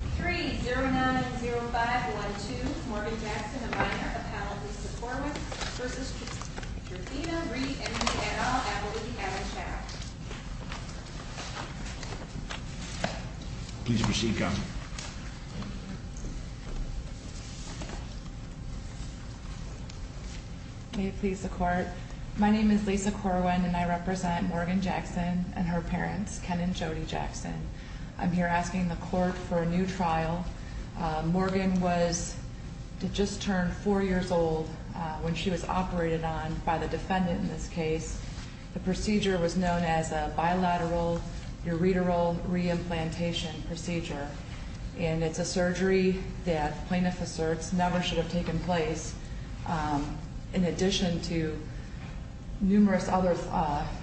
at the panel, Lisa Corwin v. Georgina Reed, Emily Et al., Abilene Hammond-Shack. Please proceed, Counsel. May it please the Court. My name is Lisa Corwin, and I represent Morgan Jackson and her parents, Ken and Jody Jackson. I'm here asking the Court for a new trial. Morgan just turned four years old when she was operated on by the defendant in this case. The procedure was known as a bilateral ureteral reimplantation procedure, and it's a surgery that plaintiff asserts never should have taken place, in addition to numerous other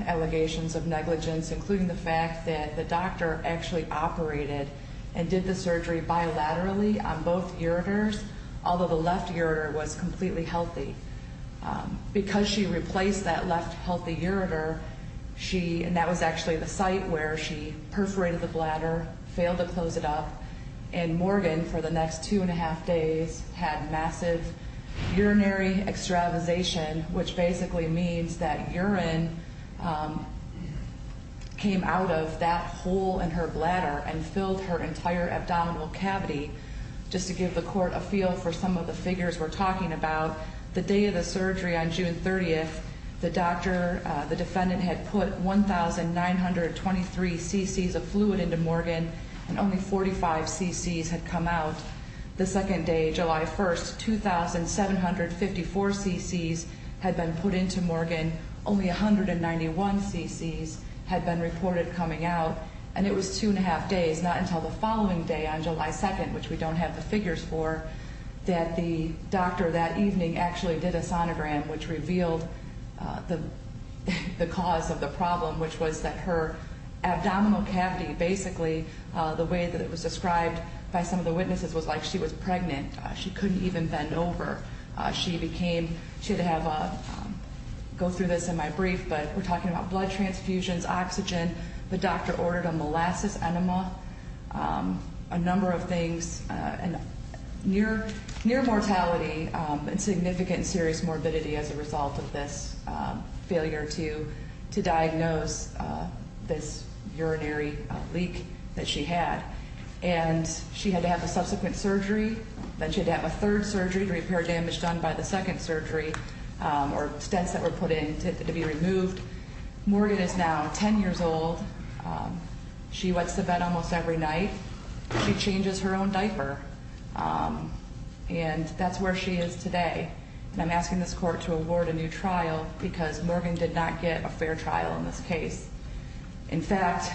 allegations of negligence, including the fact that the doctor actually operated and did the surgery bilaterally on both ureters, although the left ureter was completely healthy. Because she replaced that left healthy ureter, she – and that was actually the site where she perforated the bladder, failed to close it up, and Morgan, for the next two and a half days, had massive urinary extravasation, which basically means that urine came out of that hole in her bladder and filled her entire abdominal cavity. Just to give the Court a feel for some of the figures we're talking about, the day of the surgery on June 30th, the doctor – the defendant had put 1,923 cc's of fluid into Morgan, and only 45 cc's had come out. The second day, July 1st, 2,754 cc's had been put into Morgan, only 191 cc's had been reported coming out, and it was two and a half days, not until the following day on July 2nd, which we don't have the figures for, that the doctor that evening actually did a sonogram, which revealed the cause of the problem, which was that her abdominal cavity, basically, the way that it was described by some of the witnesses was like she was pregnant. She couldn't even bend over. She became – she had to have a – go through this in my brief, but we're talking about blood transfusions, oxygen. The doctor ordered a molasses enema, a number of things, near mortality and significant and serious morbidity as a result of this failure to diagnose this urinary leak that she had. And she had to have a subsequent surgery. Then she had to have a third surgery to repair damage done by the second surgery or stents that were put in to be removed. Morgan is now 10 years old. She wets the bed almost every night. She changes her own diaper, and that's where she is today. And I'm asking this court to award a new trial because Morgan did not get a fair trial in this case. In fact,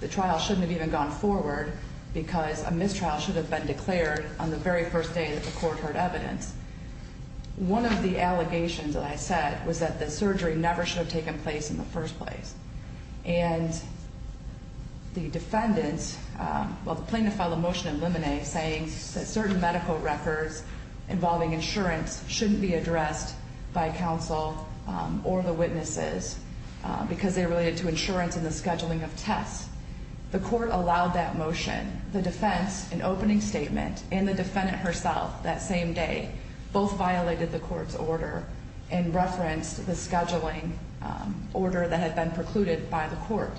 the trial shouldn't have even gone forward because a mistrial should have been declared on the very first day that the court heard evidence. One of the allegations that I said was that the surgery never should have taken place in the first place. And the defendant, well, the plaintiff filed a motion in limine saying that certain medical records involving insurance shouldn't be addressed by counsel or the witnesses because they're related to insurance and the scheduling of tests. The court allowed that motion. The defense, an opening statement, and the defendant herself that same day both violated the court's order and referenced the scheduling order that had been precluded by the court.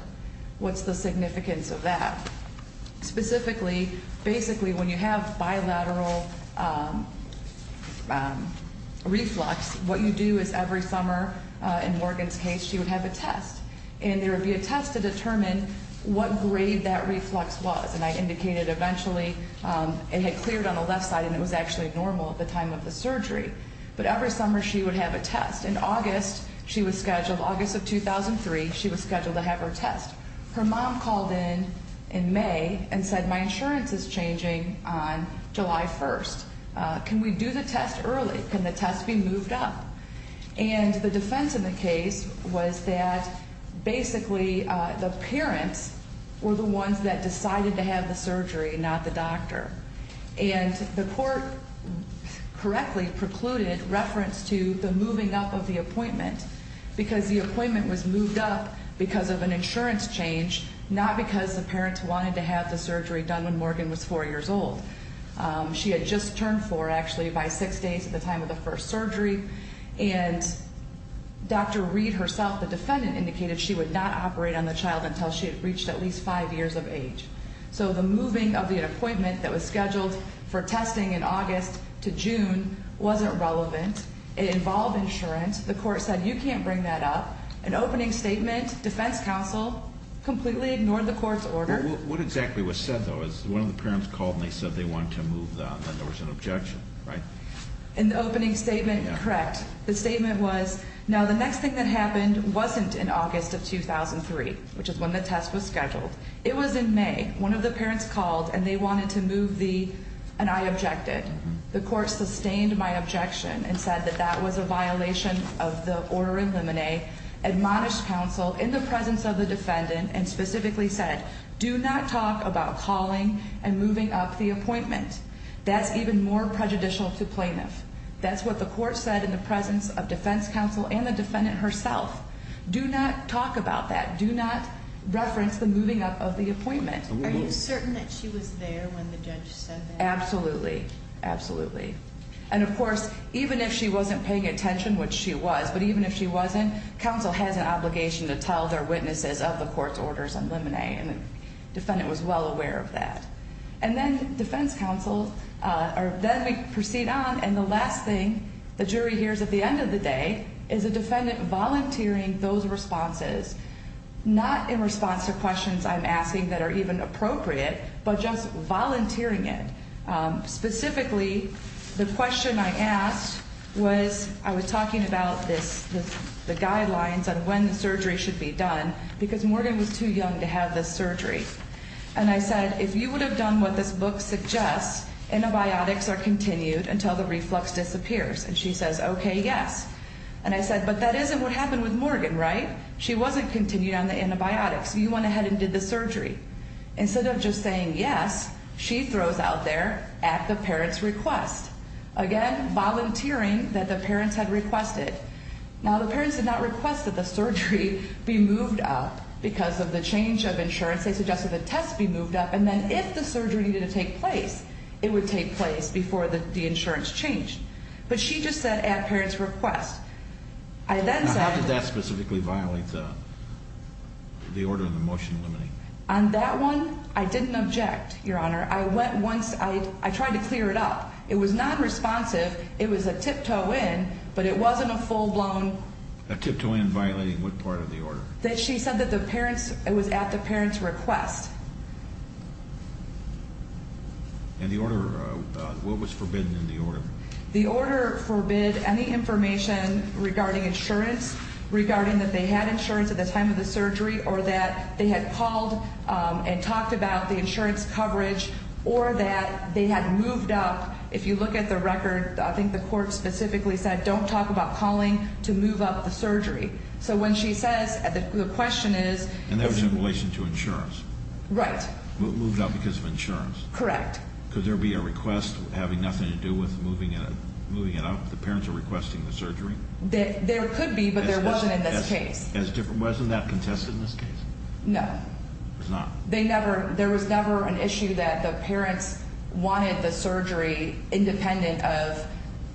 What's the significance of that? Specifically, basically when you have bilateral reflux, what you do is every summer in Morgan's case she would have a test. And there would be a test to determine what grade that reflux was. And I indicated eventually it had cleared on the left side and it was actually normal at the time of the surgery. But every summer she would have a test. In August she was scheduled, August of 2003, she was scheduled to have her test. Her mom called in in May and said my insurance is changing on July 1st. Can we do the test early? Can the test be moved up? And the defense in the case was that basically the parents were the ones that decided to have the surgery, not the doctor. And the court correctly precluded reference to the moving up of the appointment because the appointment was moved up because of an insurance change, not because the parents wanted to have the surgery done when Morgan was 4 years old. She had just turned 4, actually, by 6 days at the time of the first surgery. And Dr. Reed herself, the defendant, indicated she would not operate on the child until she had reached at least 5 years of age. So the moving of the appointment that was scheduled for testing in August to June wasn't relevant. It involved insurance. The court said you can't bring that up. An opening statement, defense counsel completely ignored the court's order. What exactly was said, though? One of the parents called and they said they wanted to move the, there was an objection, right? In the opening statement, correct. The statement was, now the next thing that happened wasn't in August of 2003, which is when the test was scheduled. It was in May. One of the parents called and they wanted to move the, and I objected. The court sustained my objection and said that that was a violation of the order in limine. Admonished counsel in the presence of the defendant and specifically said, do not talk about calling and moving up the appointment. That's even more prejudicial to plaintiffs. That's what the court said in the presence of defense counsel and the defendant herself. Do not talk about that. Do not reference the moving up of the appointment. Are you certain that she was there when the judge said that? Absolutely. Absolutely. And, of course, even if she wasn't paying attention, which she was, but even if she wasn't, counsel has an obligation to tell their witnesses of the court's orders in limine, and the defendant was well aware of that. And then defense counsel, or then we proceed on, and the last thing the jury hears at the end of the day is a defendant volunteering those responses, not in response to questions I'm asking that are even appropriate, but just volunteering it. Specifically, the question I asked was I was talking about the guidelines on when the surgery should be done because Morgan was too young to have this surgery. And I said, if you would have done what this book suggests, antibiotics are continued until the reflux disappears. And she says, okay, yes. And I said, but that isn't what happened with Morgan, right? She wasn't continuing on the antibiotics. You went ahead and did the surgery. Instead of just saying yes, she throws out there at the parent's request. Again, volunteering that the parents had requested. Now, the parents did not request that the surgery be moved up because of the change of insurance. They suggested the test be moved up, and then if the surgery needed to take place, it would take place before the insurance changed. But she just said at parent's request. How did that specifically violate the order in the motion limiting? On that one, I didn't object, Your Honor. I went once. I tried to clear it up. It was not responsive. It was a tiptoe in, but it wasn't a full-blown. A tiptoe in violating what part of the order? That she said that it was at the parent's request. And the order, what was forbidden in the order? The order forbid any information regarding insurance, regarding that they had insurance at the time of the surgery or that they had called and talked about the insurance coverage or that they had moved up. If you look at the record, I think the court specifically said don't talk about calling to move up the surgery. So when she says, the question is. And that was in relation to insurance. Right. Moved up because of insurance. Correct. Could there be a request having nothing to do with moving it up? The parents are requesting the surgery? There could be, but there wasn't in this case. Wasn't that contested in this case? No. It was not. There was never an issue that the parents wanted the surgery independent of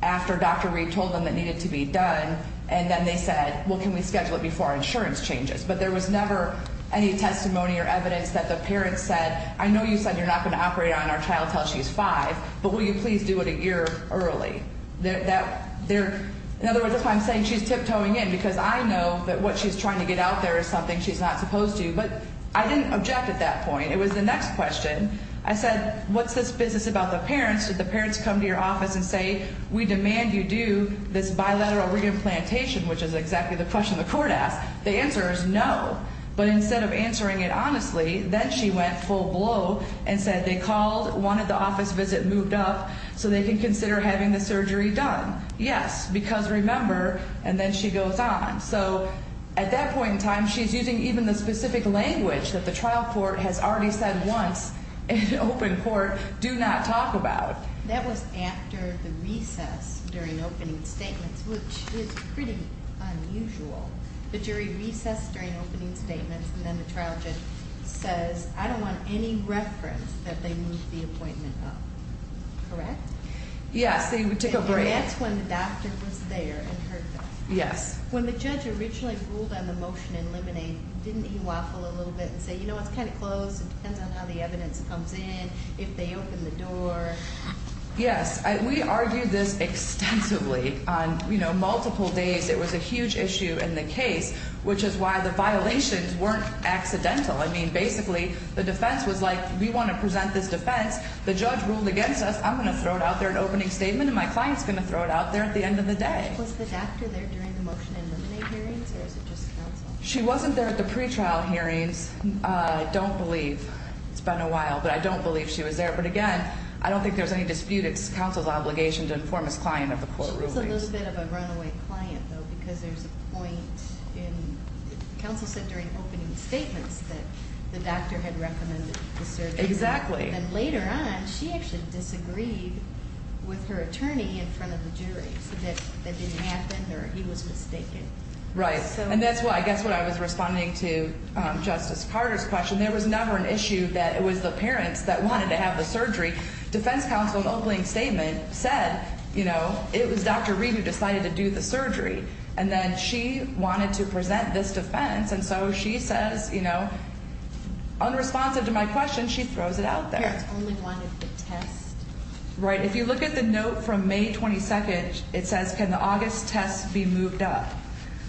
after Dr. Reed told them it needed to be done, and then they said, well, can we schedule it before our insurance changes? But there was never any testimony or evidence that the parents said, I know you said you're not going to operate on our child until she's five, but will you please do it a year early? In other words, that's why I'm saying she's tiptoeing in, because I know that what she's trying to get out there is something she's not supposed to. But I didn't object at that point. It was the next question. I said, what's this business about the parents? Did the parents come to your office and say, we demand you do this bilateral re-implantation, which is exactly the question the court asked? The answer is no. But instead of answering it honestly, then she went full blow and said they called, wanted the office visit moved up so they can consider having the surgery done. Yes, because remember, and then she goes on. So at that point in time, she's using even the specific language that the trial court has already said once in open court, do not talk about. That was after the recess during opening statements, which is pretty unusual. The jury recessed during opening statements, and then the trial judge says, I don't want any reference that they move the appointment up. Correct? Yes, they took a break. And that's when the doctor was there and heard that. Yes. When the judge originally ruled on the motion in Lemonade, didn't he waffle a little bit and say, you know what, it's kind of closed. It depends on how the evidence comes in, if they open the door. Yes. We argued this extensively on multiple days. It was a huge issue in the case, which is why the violations weren't accidental. I mean, basically, the defense was like, we want to present this defense. The judge ruled against us. I'm going to throw it out there in opening statement, and my client's going to throw it out there at the end of the day. Was the doctor there during the motion in Lemonade hearings, or was it just counsel? She wasn't there at the pretrial hearings, I don't believe. It's been a while, but I don't believe she was there. But, again, I don't think there was any dispute. It's counsel's obligation to inform his client of the court rulings. She was a little bit of a runaway client, though, because there's a point in, counsel said during opening statements that the doctor had recommended the surgery. Exactly. And later on, she actually disagreed with her attorney in front of the jury, so that that didn't happen or he was mistaken. Right. And that's why, I guess when I was responding to Justice Carter's question, there was never an issue that it was the parents that wanted to have the surgery. Defense counsel in opening statement said, you know, it was Dr. Reed who decided to do the surgery. And then she wanted to present this defense, and so she says, you know, unresponsive to my question, she throws it out there. Parents only wanted the test. Right. If you look at the note from May 22nd, it says, can the August test be moved up?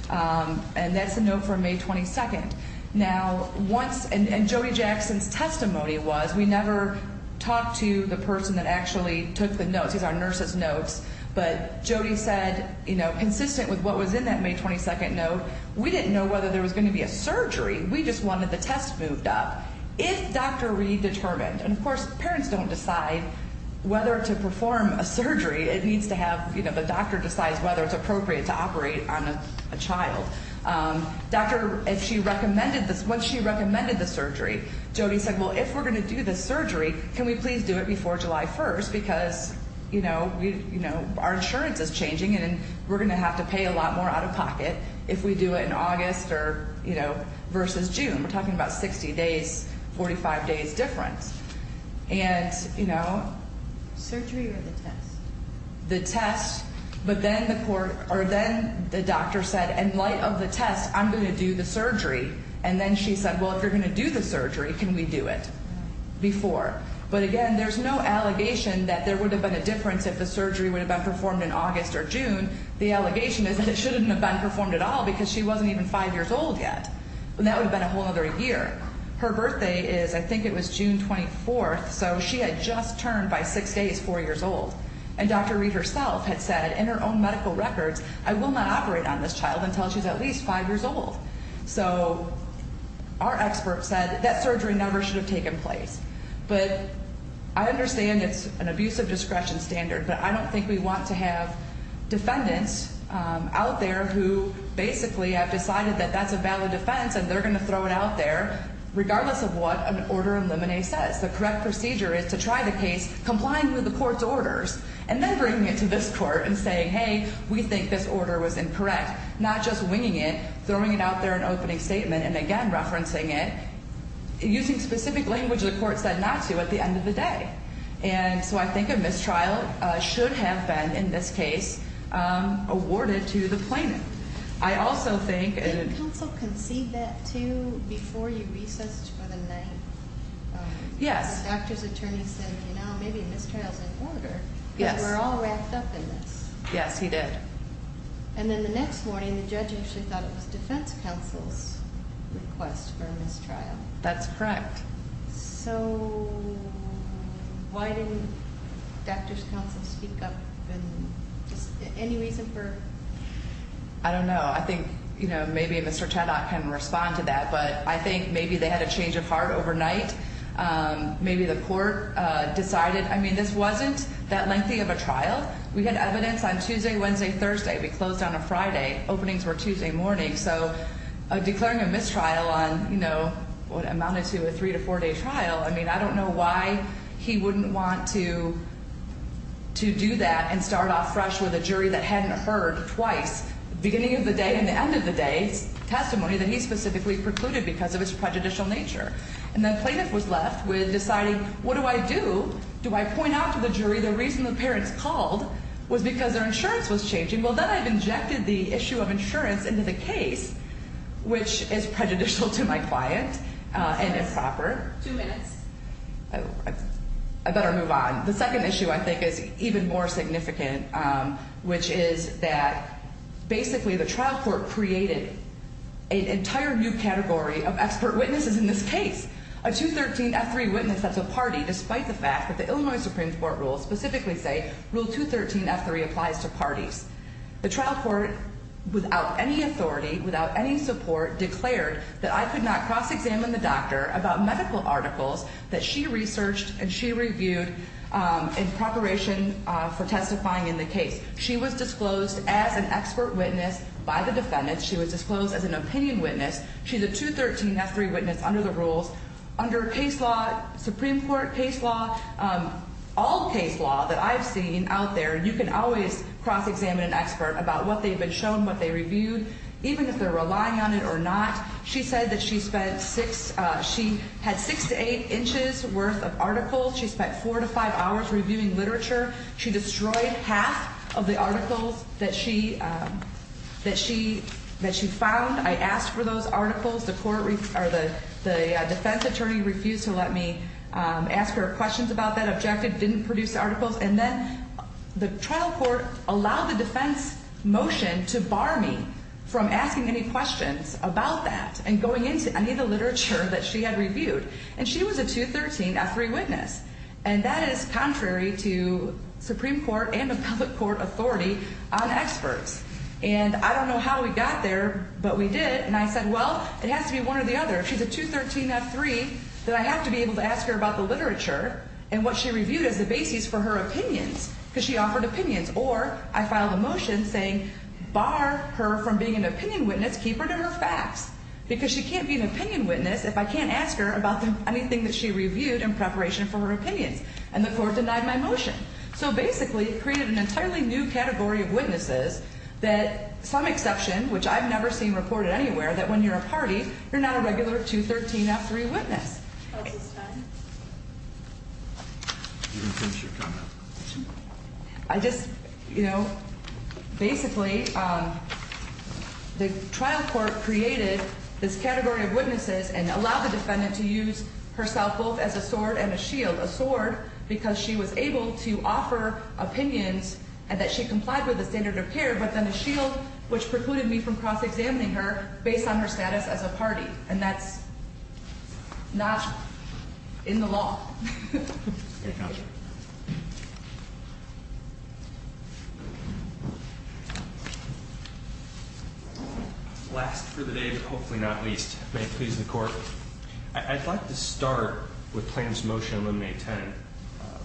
And that's the note from May 22nd. Now, once, and Jody Jackson's testimony was we never talked to the person that actually took the notes. These are nurses' notes. But Jody said, you know, consistent with what was in that May 22nd note, we didn't know whether there was going to be a surgery. We just wanted the test moved up. If Dr. Reed determined, and, of course, parents don't decide whether to perform a surgery. It needs to have, you know, the doctor decides whether it's appropriate to operate on a child. Doctor, if she recommended this, once she recommended the surgery, Jody said, well, if we're going to do this surgery, can we please do it before July 1st because, you know, our insurance is changing and we're going to have to pay a lot more out of pocket if we do it in August or, you know, versus June. We're talking about 60 days, 45 days difference. And, you know. Surgery or the test? The test. But then the doctor said, in light of the test, I'm going to do the surgery. And then she said, well, if you're going to do the surgery, can we do it before? But, again, there's no allegation that there would have been a difference if the surgery would have been performed in August or June. The allegation is that it shouldn't have been performed at all because she wasn't even 5 years old yet. And that would have been a whole other year. Her birthday is, I think it was June 24th. So she had just turned by 6 days 4 years old. And Dr. Reed herself had said in her own medical records, I will not operate on this child until she's at least 5 years old. So our expert said that surgery never should have taken place. But I understand it's an abuse of discretion standard, but I don't think we want to have defendants out there who basically have decided that that's a valid offense and they're going to throw it out there regardless of what an order in limine says. The correct procedure is to try the case, complying with the court's orders, and then bringing it to this court and saying, hey, we think this order was incorrect. Not just winging it, throwing it out there in an opening statement, and again referencing it, using specific language the court said not to at the end of the day. And so I think a mistrial should have been, in this case, awarded to the plaintiff. I also think… Did the counsel concede that, too, before you recessed for the night? Yes. The doctor's attorney said, you know, maybe a mistrial is in order. Yes. Because we're all wrapped up in this. Yes, he did. And then the next morning the judge actually thought it was defense counsel's request for a mistrial. That's correct. So why didn't doctor's counsel speak up? Any reason for… I don't know. I think, you know, maybe Mr. Chodok can respond to that. But I think maybe they had a change of heart overnight. Maybe the court decided, I mean, this wasn't that lengthy of a trial. We had evidence on Tuesday, Wednesday, Thursday. We closed on a Friday. Openings were Tuesday morning. So declaring a mistrial on, you know, what amounted to a three- to four-day trial, I mean, I don't know why he wouldn't want to do that and start off fresh with a jury that hadn't heard twice, beginning of the day and the end of the day, testimony that he specifically precluded because of his prejudicial nature. And then plaintiff was left with deciding, what do I do? Do I point out to the jury the reason the parents called was because their insurance was changing? Well, then I've injected the issue of insurance into the case, which is prejudicial to my client and improper. Two minutes. I better move on. The second issue I think is even more significant, which is that basically the trial court created an entire new category of expert witnesses in this case, a 213F3 witness that's a party despite the fact that the Illinois Supreme Court rules specifically say Rule 213F3 applies to parties. The trial court, without any authority, without any support, declared that I could not cross-examine the doctor about medical articles that she researched and she reviewed in preparation for testifying in the case. She was disclosed as an expert witness by the defendants. She was disclosed as an opinion witness. She's a 213F3 witness under the rules. Under case law, Supreme Court case law, all case law that I've seen out there, you can always cross-examine an expert about what they've been shown, what they reviewed, even if they're relying on it or not. She said that she had six to eight inches worth of articles. She spent four to five hours reviewing literature. She destroyed half of the articles that she found. I asked for those articles. The defense attorney refused to let me ask her questions about that objective, didn't produce the articles. And then the trial court allowed the defense motion to bar me from asking any questions about that and going into any of the literature that she had reviewed. And she was a 213F3 witness. And that is contrary to Supreme Court and appellate court authority on experts. And I don't know how we got there, but we did. And I said, well, it has to be one or the other. If she's a 213F3, then I have to be able to ask her about the literature and what she reviewed as the basis for her opinions because she offered opinions. Or I filed a motion saying bar her from being an opinion witness, keep her to her facts because she can't be an opinion witness if I can't ask her about anything that she reviewed in preparation for her opinions. And the court denied my motion. So basically it created an entirely new category of witnesses that some exception, which I've never seen reported anywhere, that when you're a party, you're not a regular 213F3 witness. Okay. You can finish your comment. I just, you know, basically the trial court created this category of witnesses and allowed the defendant to use herself both as a sword and a shield. A sword because she was able to offer opinions and that she complied with the standard of care, but then a shield which precluded me from cross-examining her based on her status as a party. And that's not in the law. Any comments? Last for the day, but hopefully not least. May it please the court. I'd like to start with plaintiff's motion to eliminate tenant,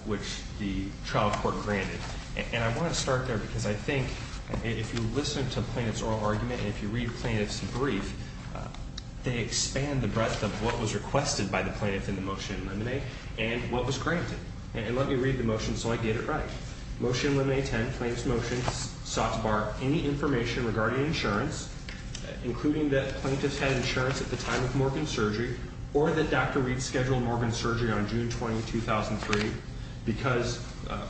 which the trial court granted. And I want to start there because I think if you listen to a plaintiff's oral argument and if you read plaintiff's brief, they expand the breadth of what was requested by the plaintiff in the motion to eliminate and what was granted. And let me read the motion so I get it right. Motion to eliminate tenant claims motion sought to bar any information regarding insurance, including that plaintiffs had insurance at the time of Morgan's surgery or that Dr. Reed scheduled Morgan's surgery on June 20, 2003, because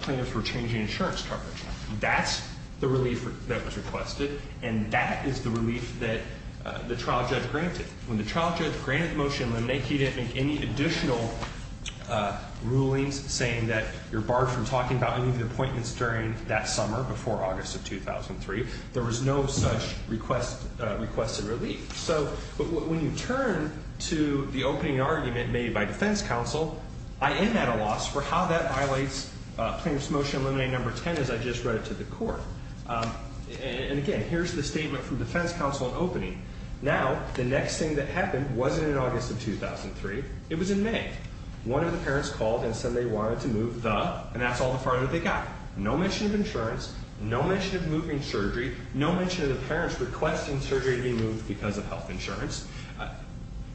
plaintiffs were changing insurance coverage. That's the relief that was requested, and that is the relief that the trial judge granted. When the trial judge granted the motion to eliminate, he didn't make any additional rulings saying that you're barred from talking about any of the appointments during that summer before August of 2003. There was no such requested relief. So when you turn to the opening argument made by defense counsel, I am at a loss for how that violates plaintiff's motion to eliminate number 10 as I just read it to the court. And again, here's the statement from defense counsel in opening. Now, the next thing that happened wasn't in August of 2003. It was in May. One of the parents called and said they wanted to move the, and that's all the farther they got. No mention of insurance, no mention of moving surgery, no mention of the parents requesting surgery to be moved because of health insurance.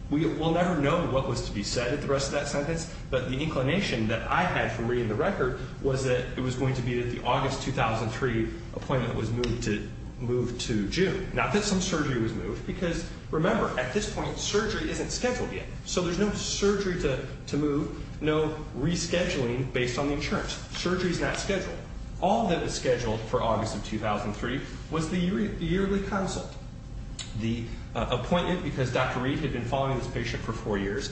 We'll never know what was to be said at the rest of that sentence, but the inclination that I had from reading the record was that it was going to be that the August 2003 appointment was moved to June. Not that some surgery was moved, because remember, at this point, surgery isn't scheduled yet. So there's no surgery to move, no rescheduling based on the insurance. Surgery is not scheduled. All that was scheduled for August of 2003 was the yearly consult. The appointment, because Dr. Reed had been following this patient for four years,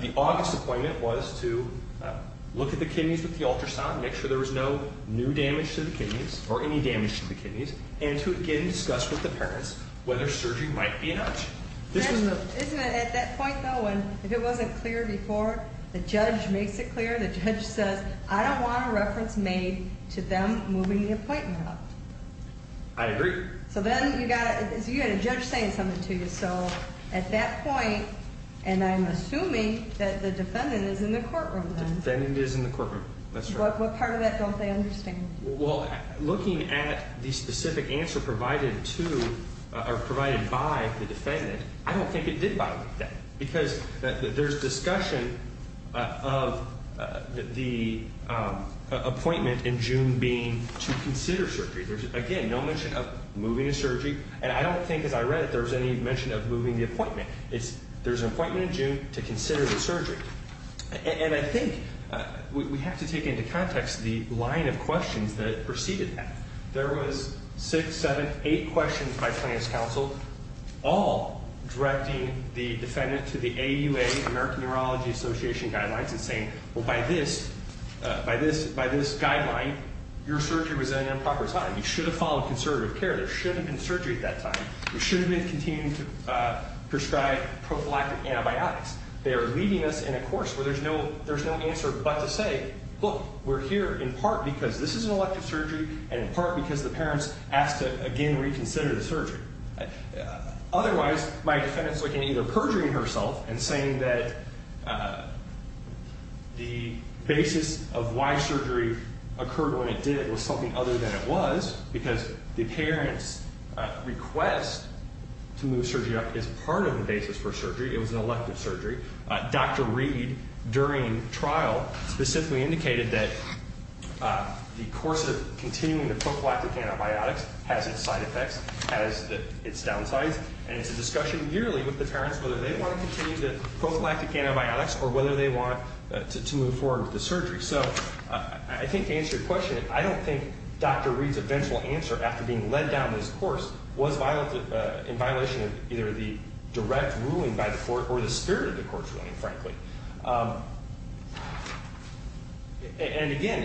the August appointment was to look at the kidneys with the ultrasound, make sure there was no new damage to the kidneys or any damage to the kidneys, and to again discuss with the parents whether surgery might be an option. This was moved. Isn't it at that point, though, when if it wasn't clear before, the judge makes it clear? The judge says, I don't want a reference made to them moving the appointment up. I agree. So then you've got a judge saying something to you. So at that point, and I'm assuming that the defendant is in the courtroom then. The defendant is in the courtroom, that's right. What part of that don't they understand? Well, looking at the specific answer provided to or provided by the defendant, I don't think it did bother them, because there's discussion of the appointment in June being to consider surgery. Again, no mention of moving the surgery. And I don't think, as I read it, there was any mention of moving the appointment. There's an appointment in June to consider the surgery. And I think we have to take into context the line of questions that preceded that. There was six, seven, eight questions by plaintiff's counsel, all directing the defendant to the AUA, American Neurology Association guidelines, and saying, well, by this guideline, your surgery was at an improper time. You should have followed conservative care. There should have been surgery at that time. You should have been continuing to prescribe prophylactic antibiotics. They are leading us in a course where there's no answer but to say, look, we're here in part because this is an elective surgery and in part because the parents asked to, again, reconsider the surgery. Otherwise, my defendant is looking at either perjuring herself and saying that the basis of why surgery occurred when it did was something other than it was because the parents' request to move surgery up is part of the basis for surgery. It was an elective surgery. Dr. Reed, during trial, specifically indicated that the course of continuing the prophylactic antibiotics has its side effects, has its downsides, and it's a discussion yearly with the parents whether they want to continue the prophylactic antibiotics or whether they want to move forward with the surgery. So I think to answer your question, I don't think Dr. Reed's eventual answer after being led down this course was in violation of either the direct ruling by the court or the spirit of the court's ruling, frankly. And, again,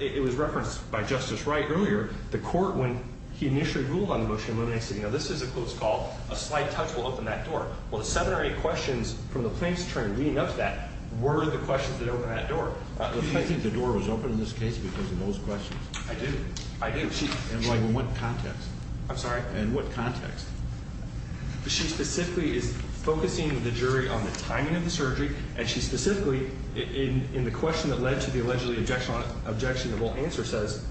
it was referenced by Justice Wright earlier. The court, when he initially ruled on the motion of eliminating, said, you know, this is a close call. A slight touch will open that door. Well, the seven or eight questions from the plaintiff's attorney leading up to that were the questions that opened that door. Do you think the door was open in this case because of those questions? I do. I do. In what context? I'm sorry? In what context? She specifically is focusing the jury on the timing of the surgery, and she specifically, in the question that led to the allegedly objectionable answer, says,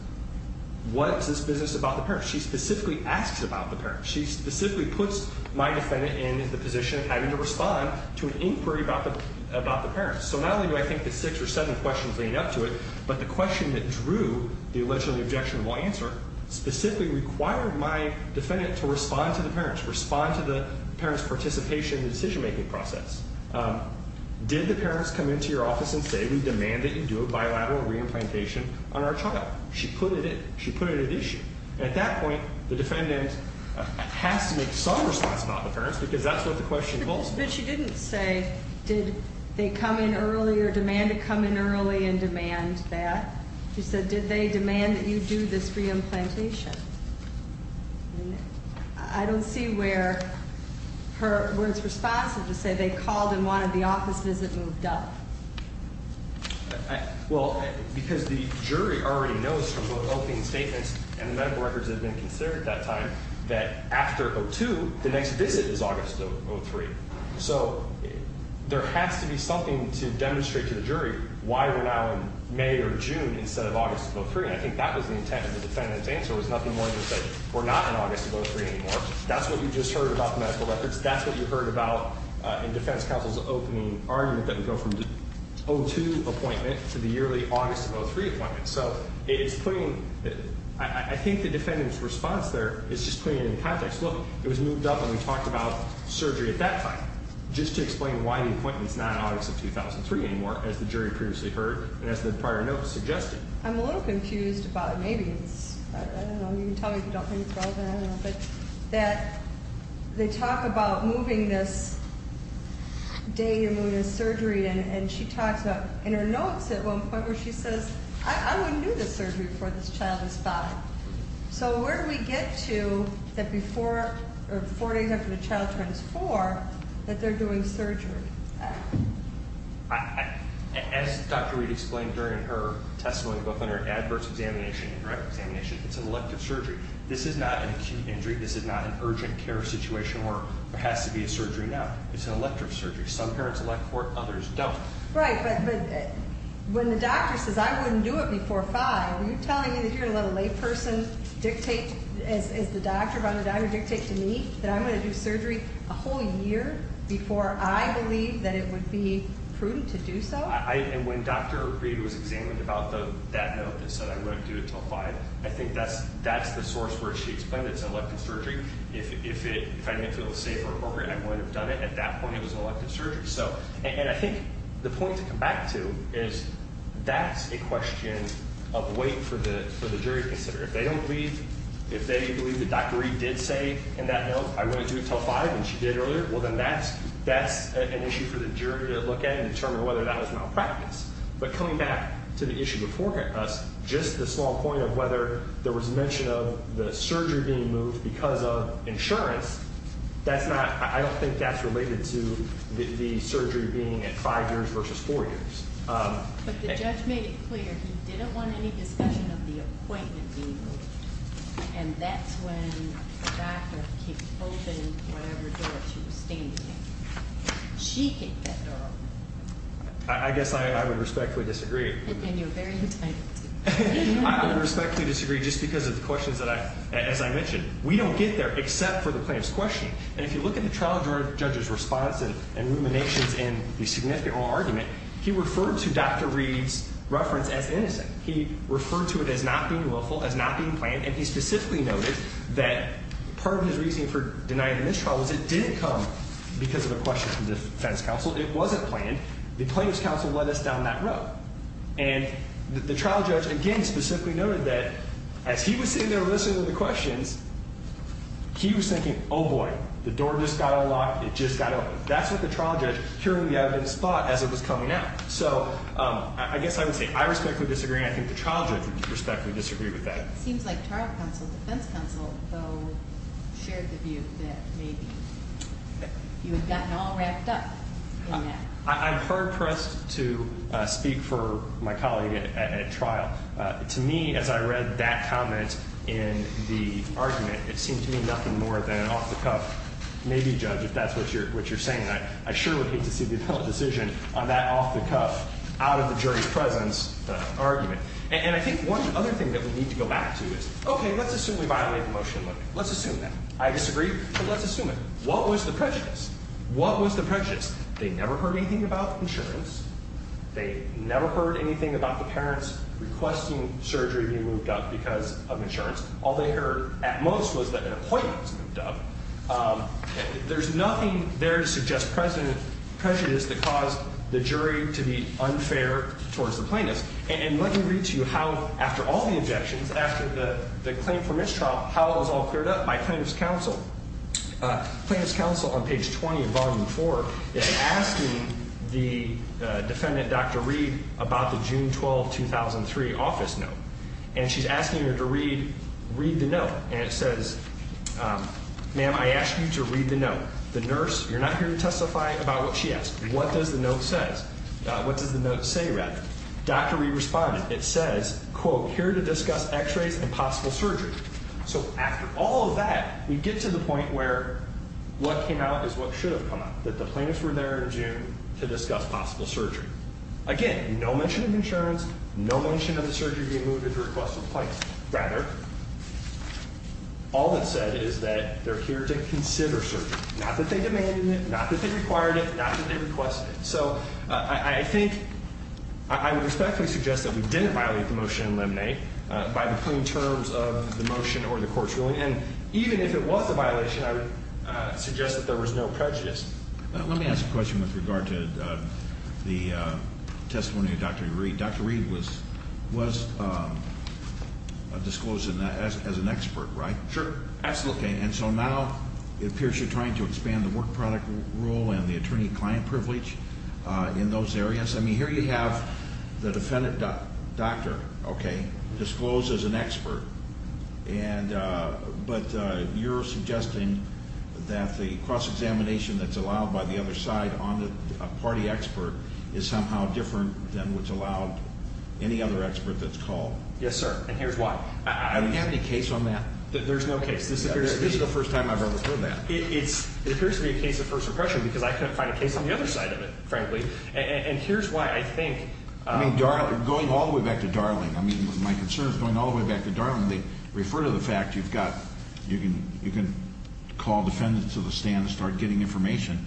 what is this business about the parents? She specifically asks about the parents. She specifically puts my defendant in the position of having to respond to an inquiry about the parents. So not only do I think the six or seven questions leading up to it, but the question that drew the allegedly objectionable answer specifically required my defendant to respond to the parents, respond to the parents' participation in the decision-making process. Did the parents come into your office and say, Did we demand that you do a bilateral re-implantation on our child? She put it at issue. At that point, the defendant has to make some response about the parents because that's what the question calls for. But she didn't say, Did they come in early or demand to come in early and demand that. She said, Did they demand that you do this re-implantation? I don't see where it's responsive to say they called and wanted the office visit moved up. Well, because the jury already knows from both opening statements and the medical records that have been considered at that time that after 02, the next visit is August of 03. So there has to be something to demonstrate to the jury why we're now in May or June instead of August of 03. I think that was the intent of the defendant's answer. It was nothing more than to say, We're not in August of 03 anymore. That's what you just heard about the medical records. That's what you heard about in defense counsel's opening argument that we go from the 02 appointment to the yearly August of 03 appointment. So it is putting – I think the defendant's response there is just putting it in context. Look, it was moved up and we talked about surgery at that time just to explain why the appointment is not in August of 2003 anymore, as the jury previously heard and as the prior note suggested. I'm a little confused about it. Maybe it's – I don't know. You can tell me if you don't think it's relevant. I don't know. But that they talk about moving this day and moving this surgery, and she talks about in her notes at one point where she says, I wouldn't do this surgery before this child is 5. So where do we get to that before – or 4 days after the child turns 4 that they're doing surgery? As Dr. Reed explained during her testimony, both in her adverse examination and correct examination, it's an elective surgery. This is not an acute injury. This is not an urgent care situation where there has to be a surgery now. It's an elective surgery. Some parents elect for it. Others don't. Right. But when the doctor says, I wouldn't do it before 5, are you telling me that you're going to let a layperson dictate, as the doctor, by the doctor dictates to me, that I'm going to do surgery a whole year before I believe that it would be prudent to do so? And when Dr. Reed was examined about that note that said, I wouldn't do it until 5, I think that's the source where she explained it's an elective surgery. If I didn't feel it was safe or appropriate, I wouldn't have done it. At that point, it was an elective surgery. And I think the point to come back to is that's a question of wait for the jury to consider it. If they don't believe, if they believe that Dr. Reed did say in that note, I wouldn't do it until 5, and she did earlier, well then that's best an issue for the jury to look at and determine whether that was malpractice. But coming back to the issue before us, just the small point of whether there was mention of the surgery being moved because of insurance, that's not, I don't think that's related to the surgery being at 5 years versus 4 years. But the judge made it clear he didn't want any discussion of the appointment being moved. And that's when the doctor kicked open whatever door she was standing in. She kicked that door open. I guess I would respectfully disagree. And you're very entitled to. I would respectfully disagree just because of the questions that I, as I mentioned, we don't get there except for the plaintiff's question. And if you look at the trial judge's response and ruminations in the significant oral argument, he referred to Dr. Reed's reference as innocent. He referred to it as not being willful, as not being planned, and he specifically noted that part of his reasoning for denying the mistrial was it didn't come because of a question from the defense counsel. It wasn't planned. The plaintiff's counsel led us down that road. And the trial judge, again, specifically noted that as he was sitting there listening to the questions, he was thinking, oh, boy, the door just got unlocked. It just got opened. That's what the trial judge, hearing the evidence, thought as it was coming out. So I guess I would say I respectfully disagree, and I think the trial judge would respectfully disagree with that. It seems like trial counsel, defense counsel, though, shared the view that maybe you had gotten all wrapped up in that. I'm hard-pressed to speak for my colleague at trial. To me, as I read that comment in the argument, it seemed to me nothing more than an off-the-cuff maybe judge, if that's what you're saying. I sure would hate to see the appellate decision on that off-the-cuff, out of the jury's presence argument. And I think one other thing that we need to go back to is, okay, let's assume we violated the motion. Let's assume that. I disagree, but let's assume it. What was the prejudice? What was the prejudice? They never heard anything about insurance. They never heard anything about the parents requesting surgery to be moved up because of insurance. All they heard at most was that an appointment was moved up. There's nothing there to suggest prejudice that caused the jury to be unfair towards the plaintiff. And let me read to you how, after all the objections, after the claim for mistrial, how it was all cleared up by plaintiff's counsel. Plaintiff's counsel, on page 20 of volume 4, is asking the defendant, Dr. Reed, about the June 12, 2003, office note. And she's asking her to read the note. And it says, ma'am, I asked you to read the note. The nurse, you're not here to testify about what she asked. What does the note say? Dr. Reed responded. It says, quote, here to discuss x-rays and possible surgery. So after all of that, we get to the point where what came out is what should have come out, that the plaintiffs were there in June to discuss possible surgery. Again, no mention of insurance. No mention of the surgery being moved at the request of the plaintiff. Rather, all it said is that they're here to consider surgery, not that they demanded it, not that they required it, not that they requested it. So I think I would respectfully suggest that we didn't violate the motion in limine by the plain terms of the motion or the court's ruling. And even if it was a violation, I would suggest that there was no prejudice. Dr. Reed was disclosed as an expert, right? Sure. Absolutely. And so now it appears you're trying to expand the work product rule and the attorney-client privilege in those areas. I mean, here you have the defendant doctor, okay, disclosed as an expert. But you're suggesting that the cross-examination that's allowed by the other side on a party expert is somehow different than what's allowed any other expert that's called. Yes, sir. And here's why. Have you had any case on that? There's no case. This is the first time I've ever heard that. It appears to be a case of first impression because I couldn't find a case on the other side of it, frankly. And here's why. I think going all the way back to Darling, my concern is going all the way back to Darling, they refer to the fact you can call defendants to the stand and start getting information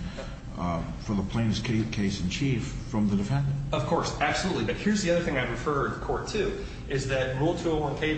for the plaintiff's case in chief from the defendant. Of course. Absolutely. But here's the other thing I refer to the court, too, is that rule 201C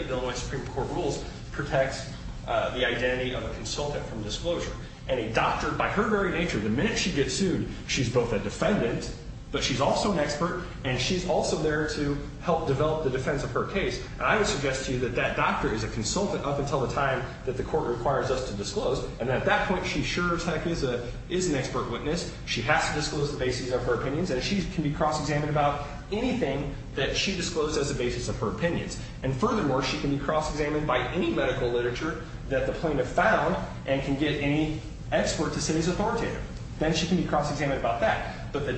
of the Illinois Supreme Court rules protects the identity of a consultant from disclosure. And a doctor, by her very nature, the minute she gets sued, she's both a defendant, but she's also an expert, and she's also there to help develop the defense of her case. And I would suggest to you that that doctor is a consultant up until the time that the court requires us to disclose. And at that point, she sure as heck is an expert witness. She has to disclose the basis of her opinions. And she can be cross-examined about anything that she disclosed as the basis of her opinions. And furthermore, she can be cross-examined by any medical literature that the plaintiff found and can get any expert to say is authoritative. Then she can be cross-examined about that. But the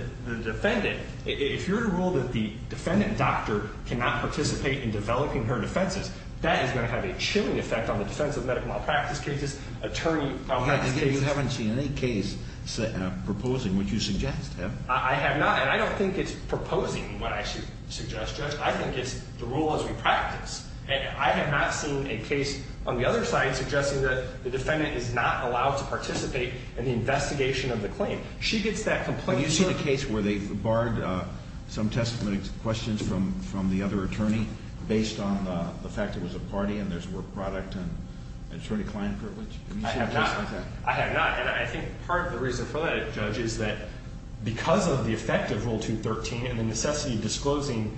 defendant, if you're to rule that the defendant doctor cannot participate in developing her defenses, that is going to have a chilling effect on the defense of medical malpractice cases, attorney malpractice cases. You haven't seen any case proposing what you suggest, have you? I have not. And I don't think it's proposing what I should suggest, Judge. I think it's the rule as we practice. And I have not seen a case on the other side suggesting that the defendant is not allowed to participate in the investigation of the claim. She gets that complaint. Have you seen a case where they barred some testimony questions from the other side, and in fact it was a party and there's a work product and attorney I have not. I have not. And I think part of the reason for that, Judge, is that because of the effect of Rule 213 and the necessity of disclosing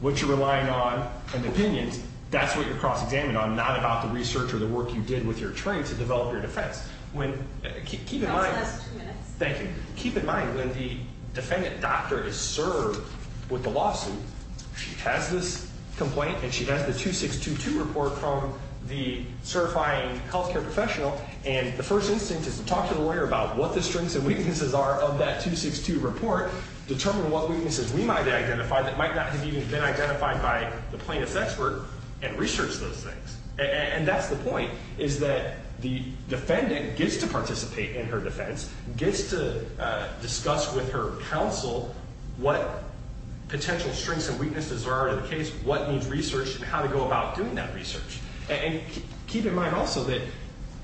what you're relying on and opinions, that's what you're cross-examined on, not about the research or the work you did with your attorney to develop your defense. When – keep in mind – That last two minutes. Thank you. Keep in mind, when the defendant doctor is served with the lawsuit, she has this complaint and she has the 2622 report from the certifying healthcare professional. And the first instance is to talk to the lawyer about what the strengths and weaknesses are of that 2622 report, determine what weaknesses we might identify that might not have even been identified by the plaintiff's expert, and research those things. And that's the point, is that the defendant gets to participate in her defense, gets to discuss with her counsel what potential strengths and weaknesses are of that case, what needs research, and how to go about doing that research. And keep in mind also that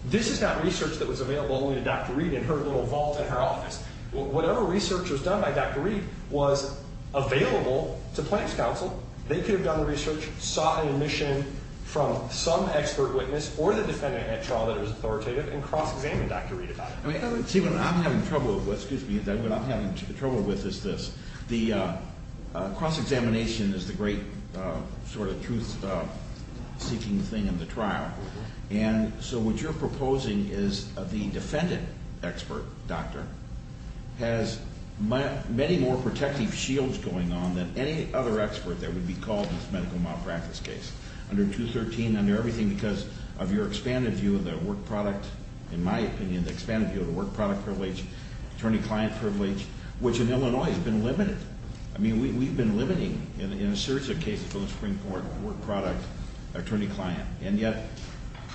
this is not research that was available only to Dr. Reed in her little vault in her office. Whatever research was done by Dr. Reed was available to plaintiff's counsel. They could have done the research, sought an admission from some expert witness or the defendant at trial that was authoritative, and cross-examined Dr. Reed about it. See, what I'm having trouble with – excuse me – what I'm having trouble with is this. The cross-examination is the great sort of truth-seeking thing in the trial. And so what you're proposing is the defendant expert doctor has many more protective shields going on than any other expert that would be called in this medical malpractice case. Under 213, under everything because of your expanded view of the work product – in my opinion, the expanded view of the work product privilege, attorney client privilege, which in Illinois has been limited. I mean, we've been limiting in a series of cases for the Supreme Court work product attorney client. And yet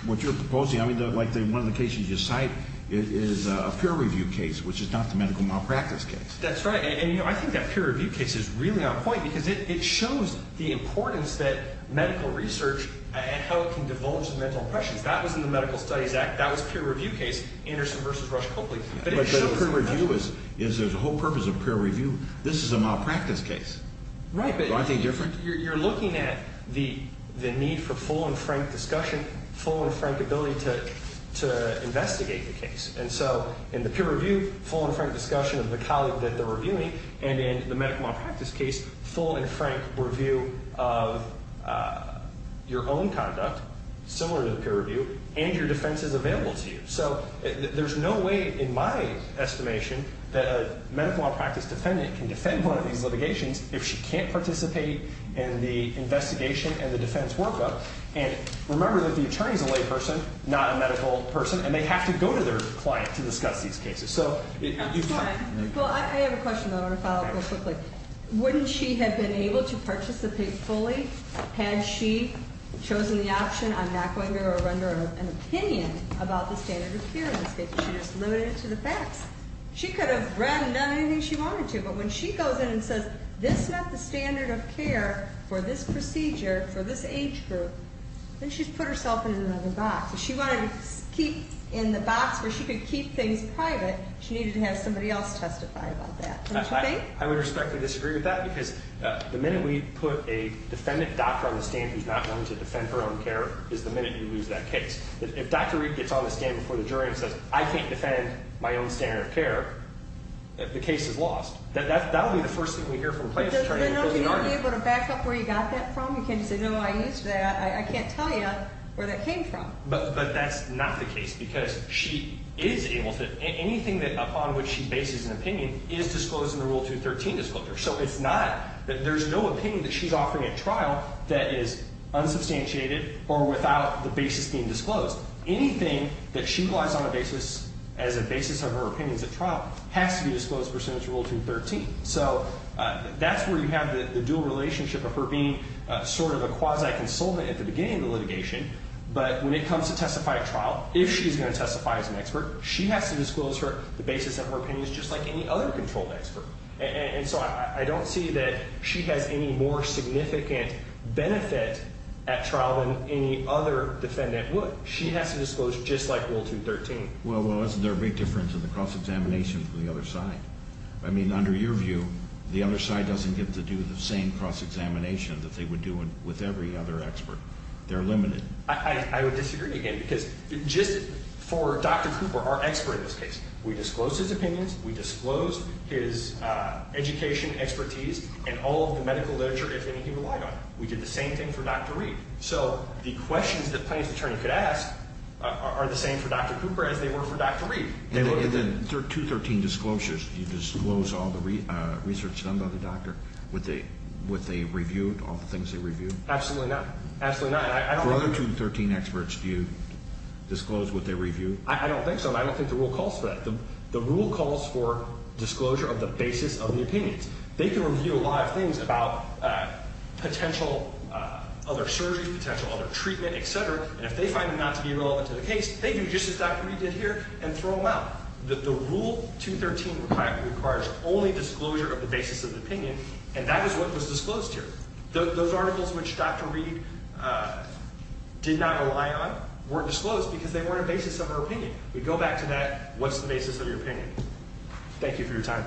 what you're proposing – I mean, like one of the cases you cite is a peer-review case, which is not the medical malpractice case. That's right. And I think that peer-review case is really on point because it shows the importance that medical research and how it can divulge the mental impressions. That was in the Medical Studies Act. That was a peer-review case, Anderson v. Rush-Copley. But a peer-review is there's a whole purpose of peer-review. This is a malpractice case. Right. Aren't they different? You're looking at the need for full and frank discussion, full and frank ability to investigate the case. And so in the peer-review, full and frank discussion of the colleague that they're reviewing, and in the medical malpractice case, full and frank review of your own conduct, similar to the peer-review, and your defenses available to you. So there's no way, in my estimation, that a medical malpractice defendant can defend one of these litigations if she can't participate in the investigation and the defense workup. And remember that the attorney is a layperson, not a medical person, and they have to go to their client to discuss these cases. So you've got to – Well, I have a question, though. I want to follow up real quickly. Wouldn't she have been able to participate fully had she chosen the option I'm not going to render an opinion about the standard of care in this case. She just limited it to the facts. She could have read and done anything she wanted to. But when she goes in and says, this is not the standard of care for this procedure, for this age group, then she's put herself in another box. If she wanted to keep in the box where she could keep things private, she needed to have somebody else testify about that. Don't you think? I would respectfully disagree with that because the minute we put a defendant doctor on the stand who's not willing to defend her own care is the minute we lose that case. If Dr. Reid gets on the stand before the jury and says, I can't defend my own standard of care, the case is lost. That would be the first thing we hear from a plaintiff's attorney. So then don't you need to be able to back up where you got that from? You can't just say, no, I used that. I can't tell you where that came from. But that's not the case because she is able to – anything upon which she bases an opinion is disclosed in the Rule 213 disclosure. So it's not – there's no opinion that she's offering at trial that is unsubstantiated or without the basis being disclosed. Anything that she relies on as a basis of her opinions at trial has to be disclosed pursuant to Rule 213. So that's where you have the dual relationship of her being sort of a quasi consultant at the beginning of the litigation. But when it comes to testify at trial, if she's going to testify as an expert, she has to disclose the basis of her opinions just like any other controlled expert. And so I don't see that she has any more significant benefit at trial than any other defendant would. She has to disclose just like Rule 213. Well, isn't there a big difference in the cross-examination from the other side? I mean, under your view, the other side doesn't get to do the same cross-examination that they would do with every other expert. They're limited. I would disagree again because just for Dr. Cooper, our expert in this case, we disclosed his opinions, we disclosed his education, expertise, and all of the medical literature, if anything, he relied on. We did the same thing for Dr. Reed. So the questions that plaintiff's attorney could ask are the same for Dr. Cooper as they were for Dr. Reed. In the 213 disclosures, do you disclose all the research done by the doctor, what they reviewed, all the things they reviewed? Absolutely not. For other 213 experts, do you disclose what they reviewed? I don't think so. I don't think the rule calls for that. The rule calls for disclosure of the basis of the opinions. They can review a lot of things about potential other surgeries, potential other treatment, et cetera, and if they find them not to be relevant to the case, they do just as Dr. Reed did here and throw them out. The Rule 213 requires only disclosure of the basis of the opinion, and that is what was disclosed here. Those articles which Dr. Reed did not rely on weren't disclosed because they weren't a basis of our opinion. We go back to that, what's the basis of your opinion? Thank you for your time.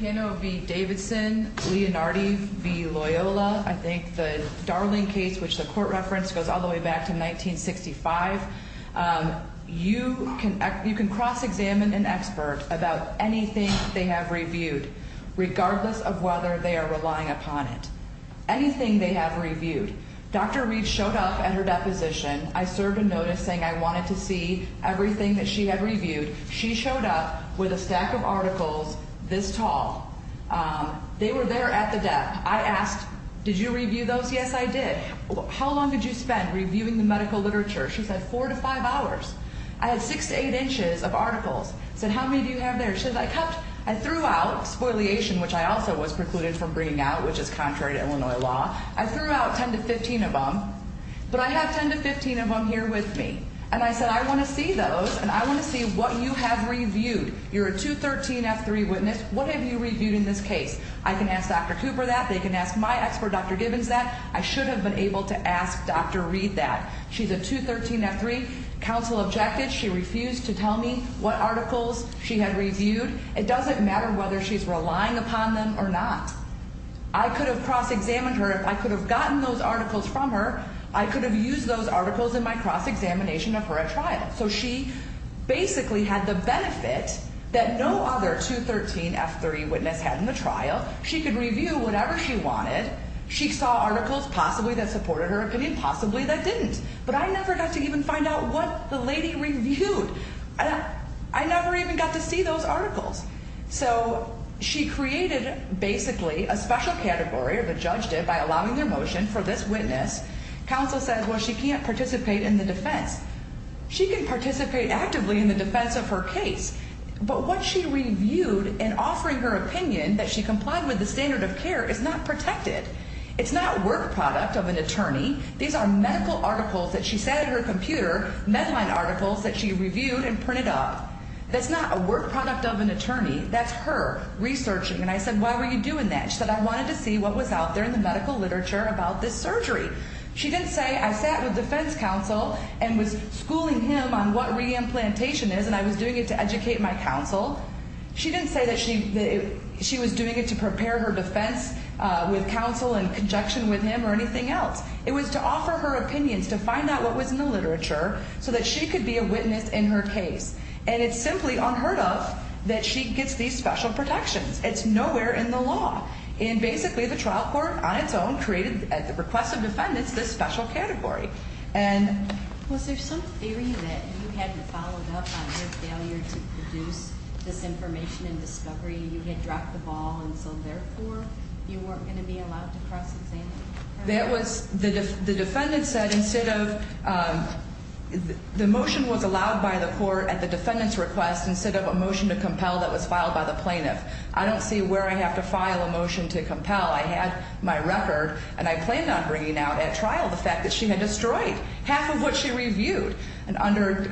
Pano v. Davidson, Leonardo v. Loyola. I think the Darling case, which the court referenced, goes all the way back to 1965. You can cross-examine an expert about anything they have reviewed, regardless of whether they are relying upon it. Anything they have reviewed. Dr. Reed showed up at her deposition. I served a notice saying I wanted to see everything that she had reviewed. She showed up with a stack of articles this tall. They were there at the dep. I asked, did you review those? Yes, I did. How long did you spend reviewing the medical literature? She said, four to five hours. I had six to eight inches of articles. I said, how many do you have there? She said, I cupped. I threw out, spoliation, which I also was precluded from bringing out, which is contrary to Illinois law. I threw out 10 to 15 of them. But I have 10 to 15 of them here with me. And I said, I want to see those, and I want to see what you have reviewed. You're a 213F3 witness. What have you reviewed in this case? I can ask Dr. Cooper that. They can ask my expert, Dr. Gibbons, that. I should have been able to ask Dr. Reed that. She's a 213F3. Counsel objected. She refused to tell me what articles she had reviewed. It doesn't matter whether she's relying upon them or not. I could have cross-examined her. If I could have gotten those articles from her, I could have used those articles in my cross-examination of her at trial. So she basically had the benefit that no other 213F3 witness had in the trial. She could review whatever she wanted. She saw articles possibly that supported her opinion, possibly that didn't. But I never got to even find out what the lady reviewed. I never even got to see those articles. So she created, basically, a special category, or the judge did, by allowing their motion for this witness. Counsel says, well, she can't participate in the defense. She can participate actively in the defense of her case. But what she reviewed in offering her opinion that she complied with the standard of care is not protected. It's not work product of an attorney. These are medical articles that she said in her computer, Medline articles that she reviewed and printed up. That's not a work product of an attorney. That's her researching. And I said, why were you doing that? She said, I wanted to see what was out there in the medical literature about this surgery. She didn't say, I sat with defense counsel and was schooling him on what reimplantation is, and I was doing it to educate my counsel. She didn't say that she was doing it to prepare her defense with counsel and conjunction with him or anything else. It was to offer her opinions, to find out what was in the literature so that she could be a witness in her case. And it's simply unheard of that she gets these special protections. It's nowhere in the law. And basically, the trial court on its own created, at the request of defendants, this special category. And was there some theory that you had followed up on her failure to produce this information and discovery? You had dropped the ball, and so therefore, you weren't going to be allowed to cross-examine her? The defendant said instead of the motion was allowed by the court at the defendant's request instead of a motion to compel that was filed by the plaintiff. I don't see where I have to file a motion to compel. I had my record, and I planned on bringing out at trial the fact that she had destroyed half of what she reviewed. And under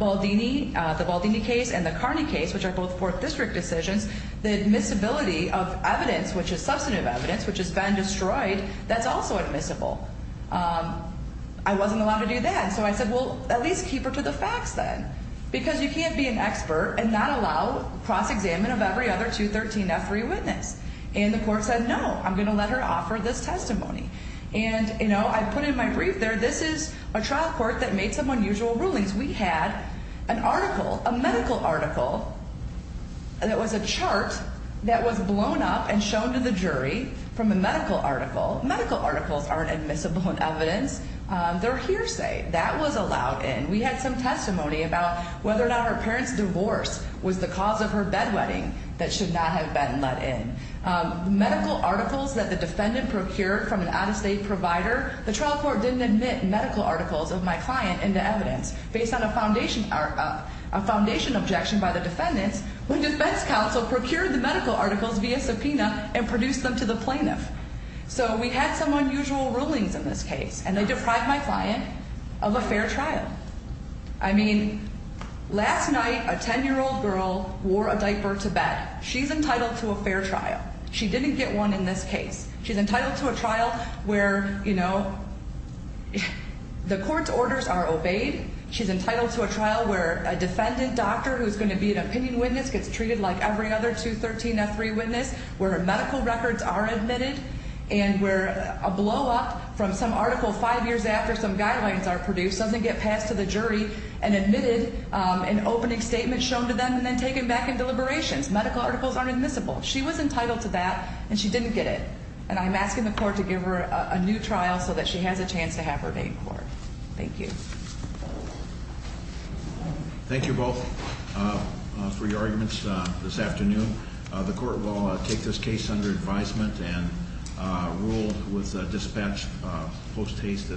Baldini, the Baldini case and the Carney case, which are both fourth district decisions, the admissibility of evidence, which is substantive evidence, which has been destroyed, that's also admissible. I wasn't allowed to do that, so I said, well, at least keep her to the facts then. Because you can't be an expert and not allow cross-examination of every other 213F free witness. And the court said no, I'm going to let her offer this testimony. And, you know, I put in my brief there, this is a trial court that made some unusual rulings. We had an article, a medical article that was a chart that was blown up and shown to the jury from a medical article. Medical articles aren't admissible in evidence. Their hearsay, that was allowed in. We had some testimony about whether or not her parents' divorce was the cause of her bedwetting that should not have been let in. Medical articles that the defendant procured from an out-of-state provider, the trial court didn't admit medical articles of my client into evidence, based on a foundation objection by the defendants, when defense counsel procured the medical articles via subpoena and produced them to the plaintiff. So we had some unusual rulings in this case, and they deprived my client of a fair trial. I mean, last night a 10-year-old girl wore a diaper to bed. She's entitled to a fair trial. She didn't get one in this case. She's entitled to a trial where, you know, the court's orders are obeyed. She's entitled to a trial where a defendant doctor who is going to be an opinion witness gets treated like every other 213F3 witness, where medical records are admitted, and where a blow-up from some article five years after some guidelines are produced doesn't get passed to the jury and admitted, an opening statement shown to them, and then taken back in deliberations. Medical articles aren't admissible. She was entitled to that, and she didn't get it. And I'm asking the court to give her a new trial so that she has a chance to have her named court. Thank you. Thank you both for your arguments this afternoon. The court will take this case under advisement and rule with dispatch post-haste.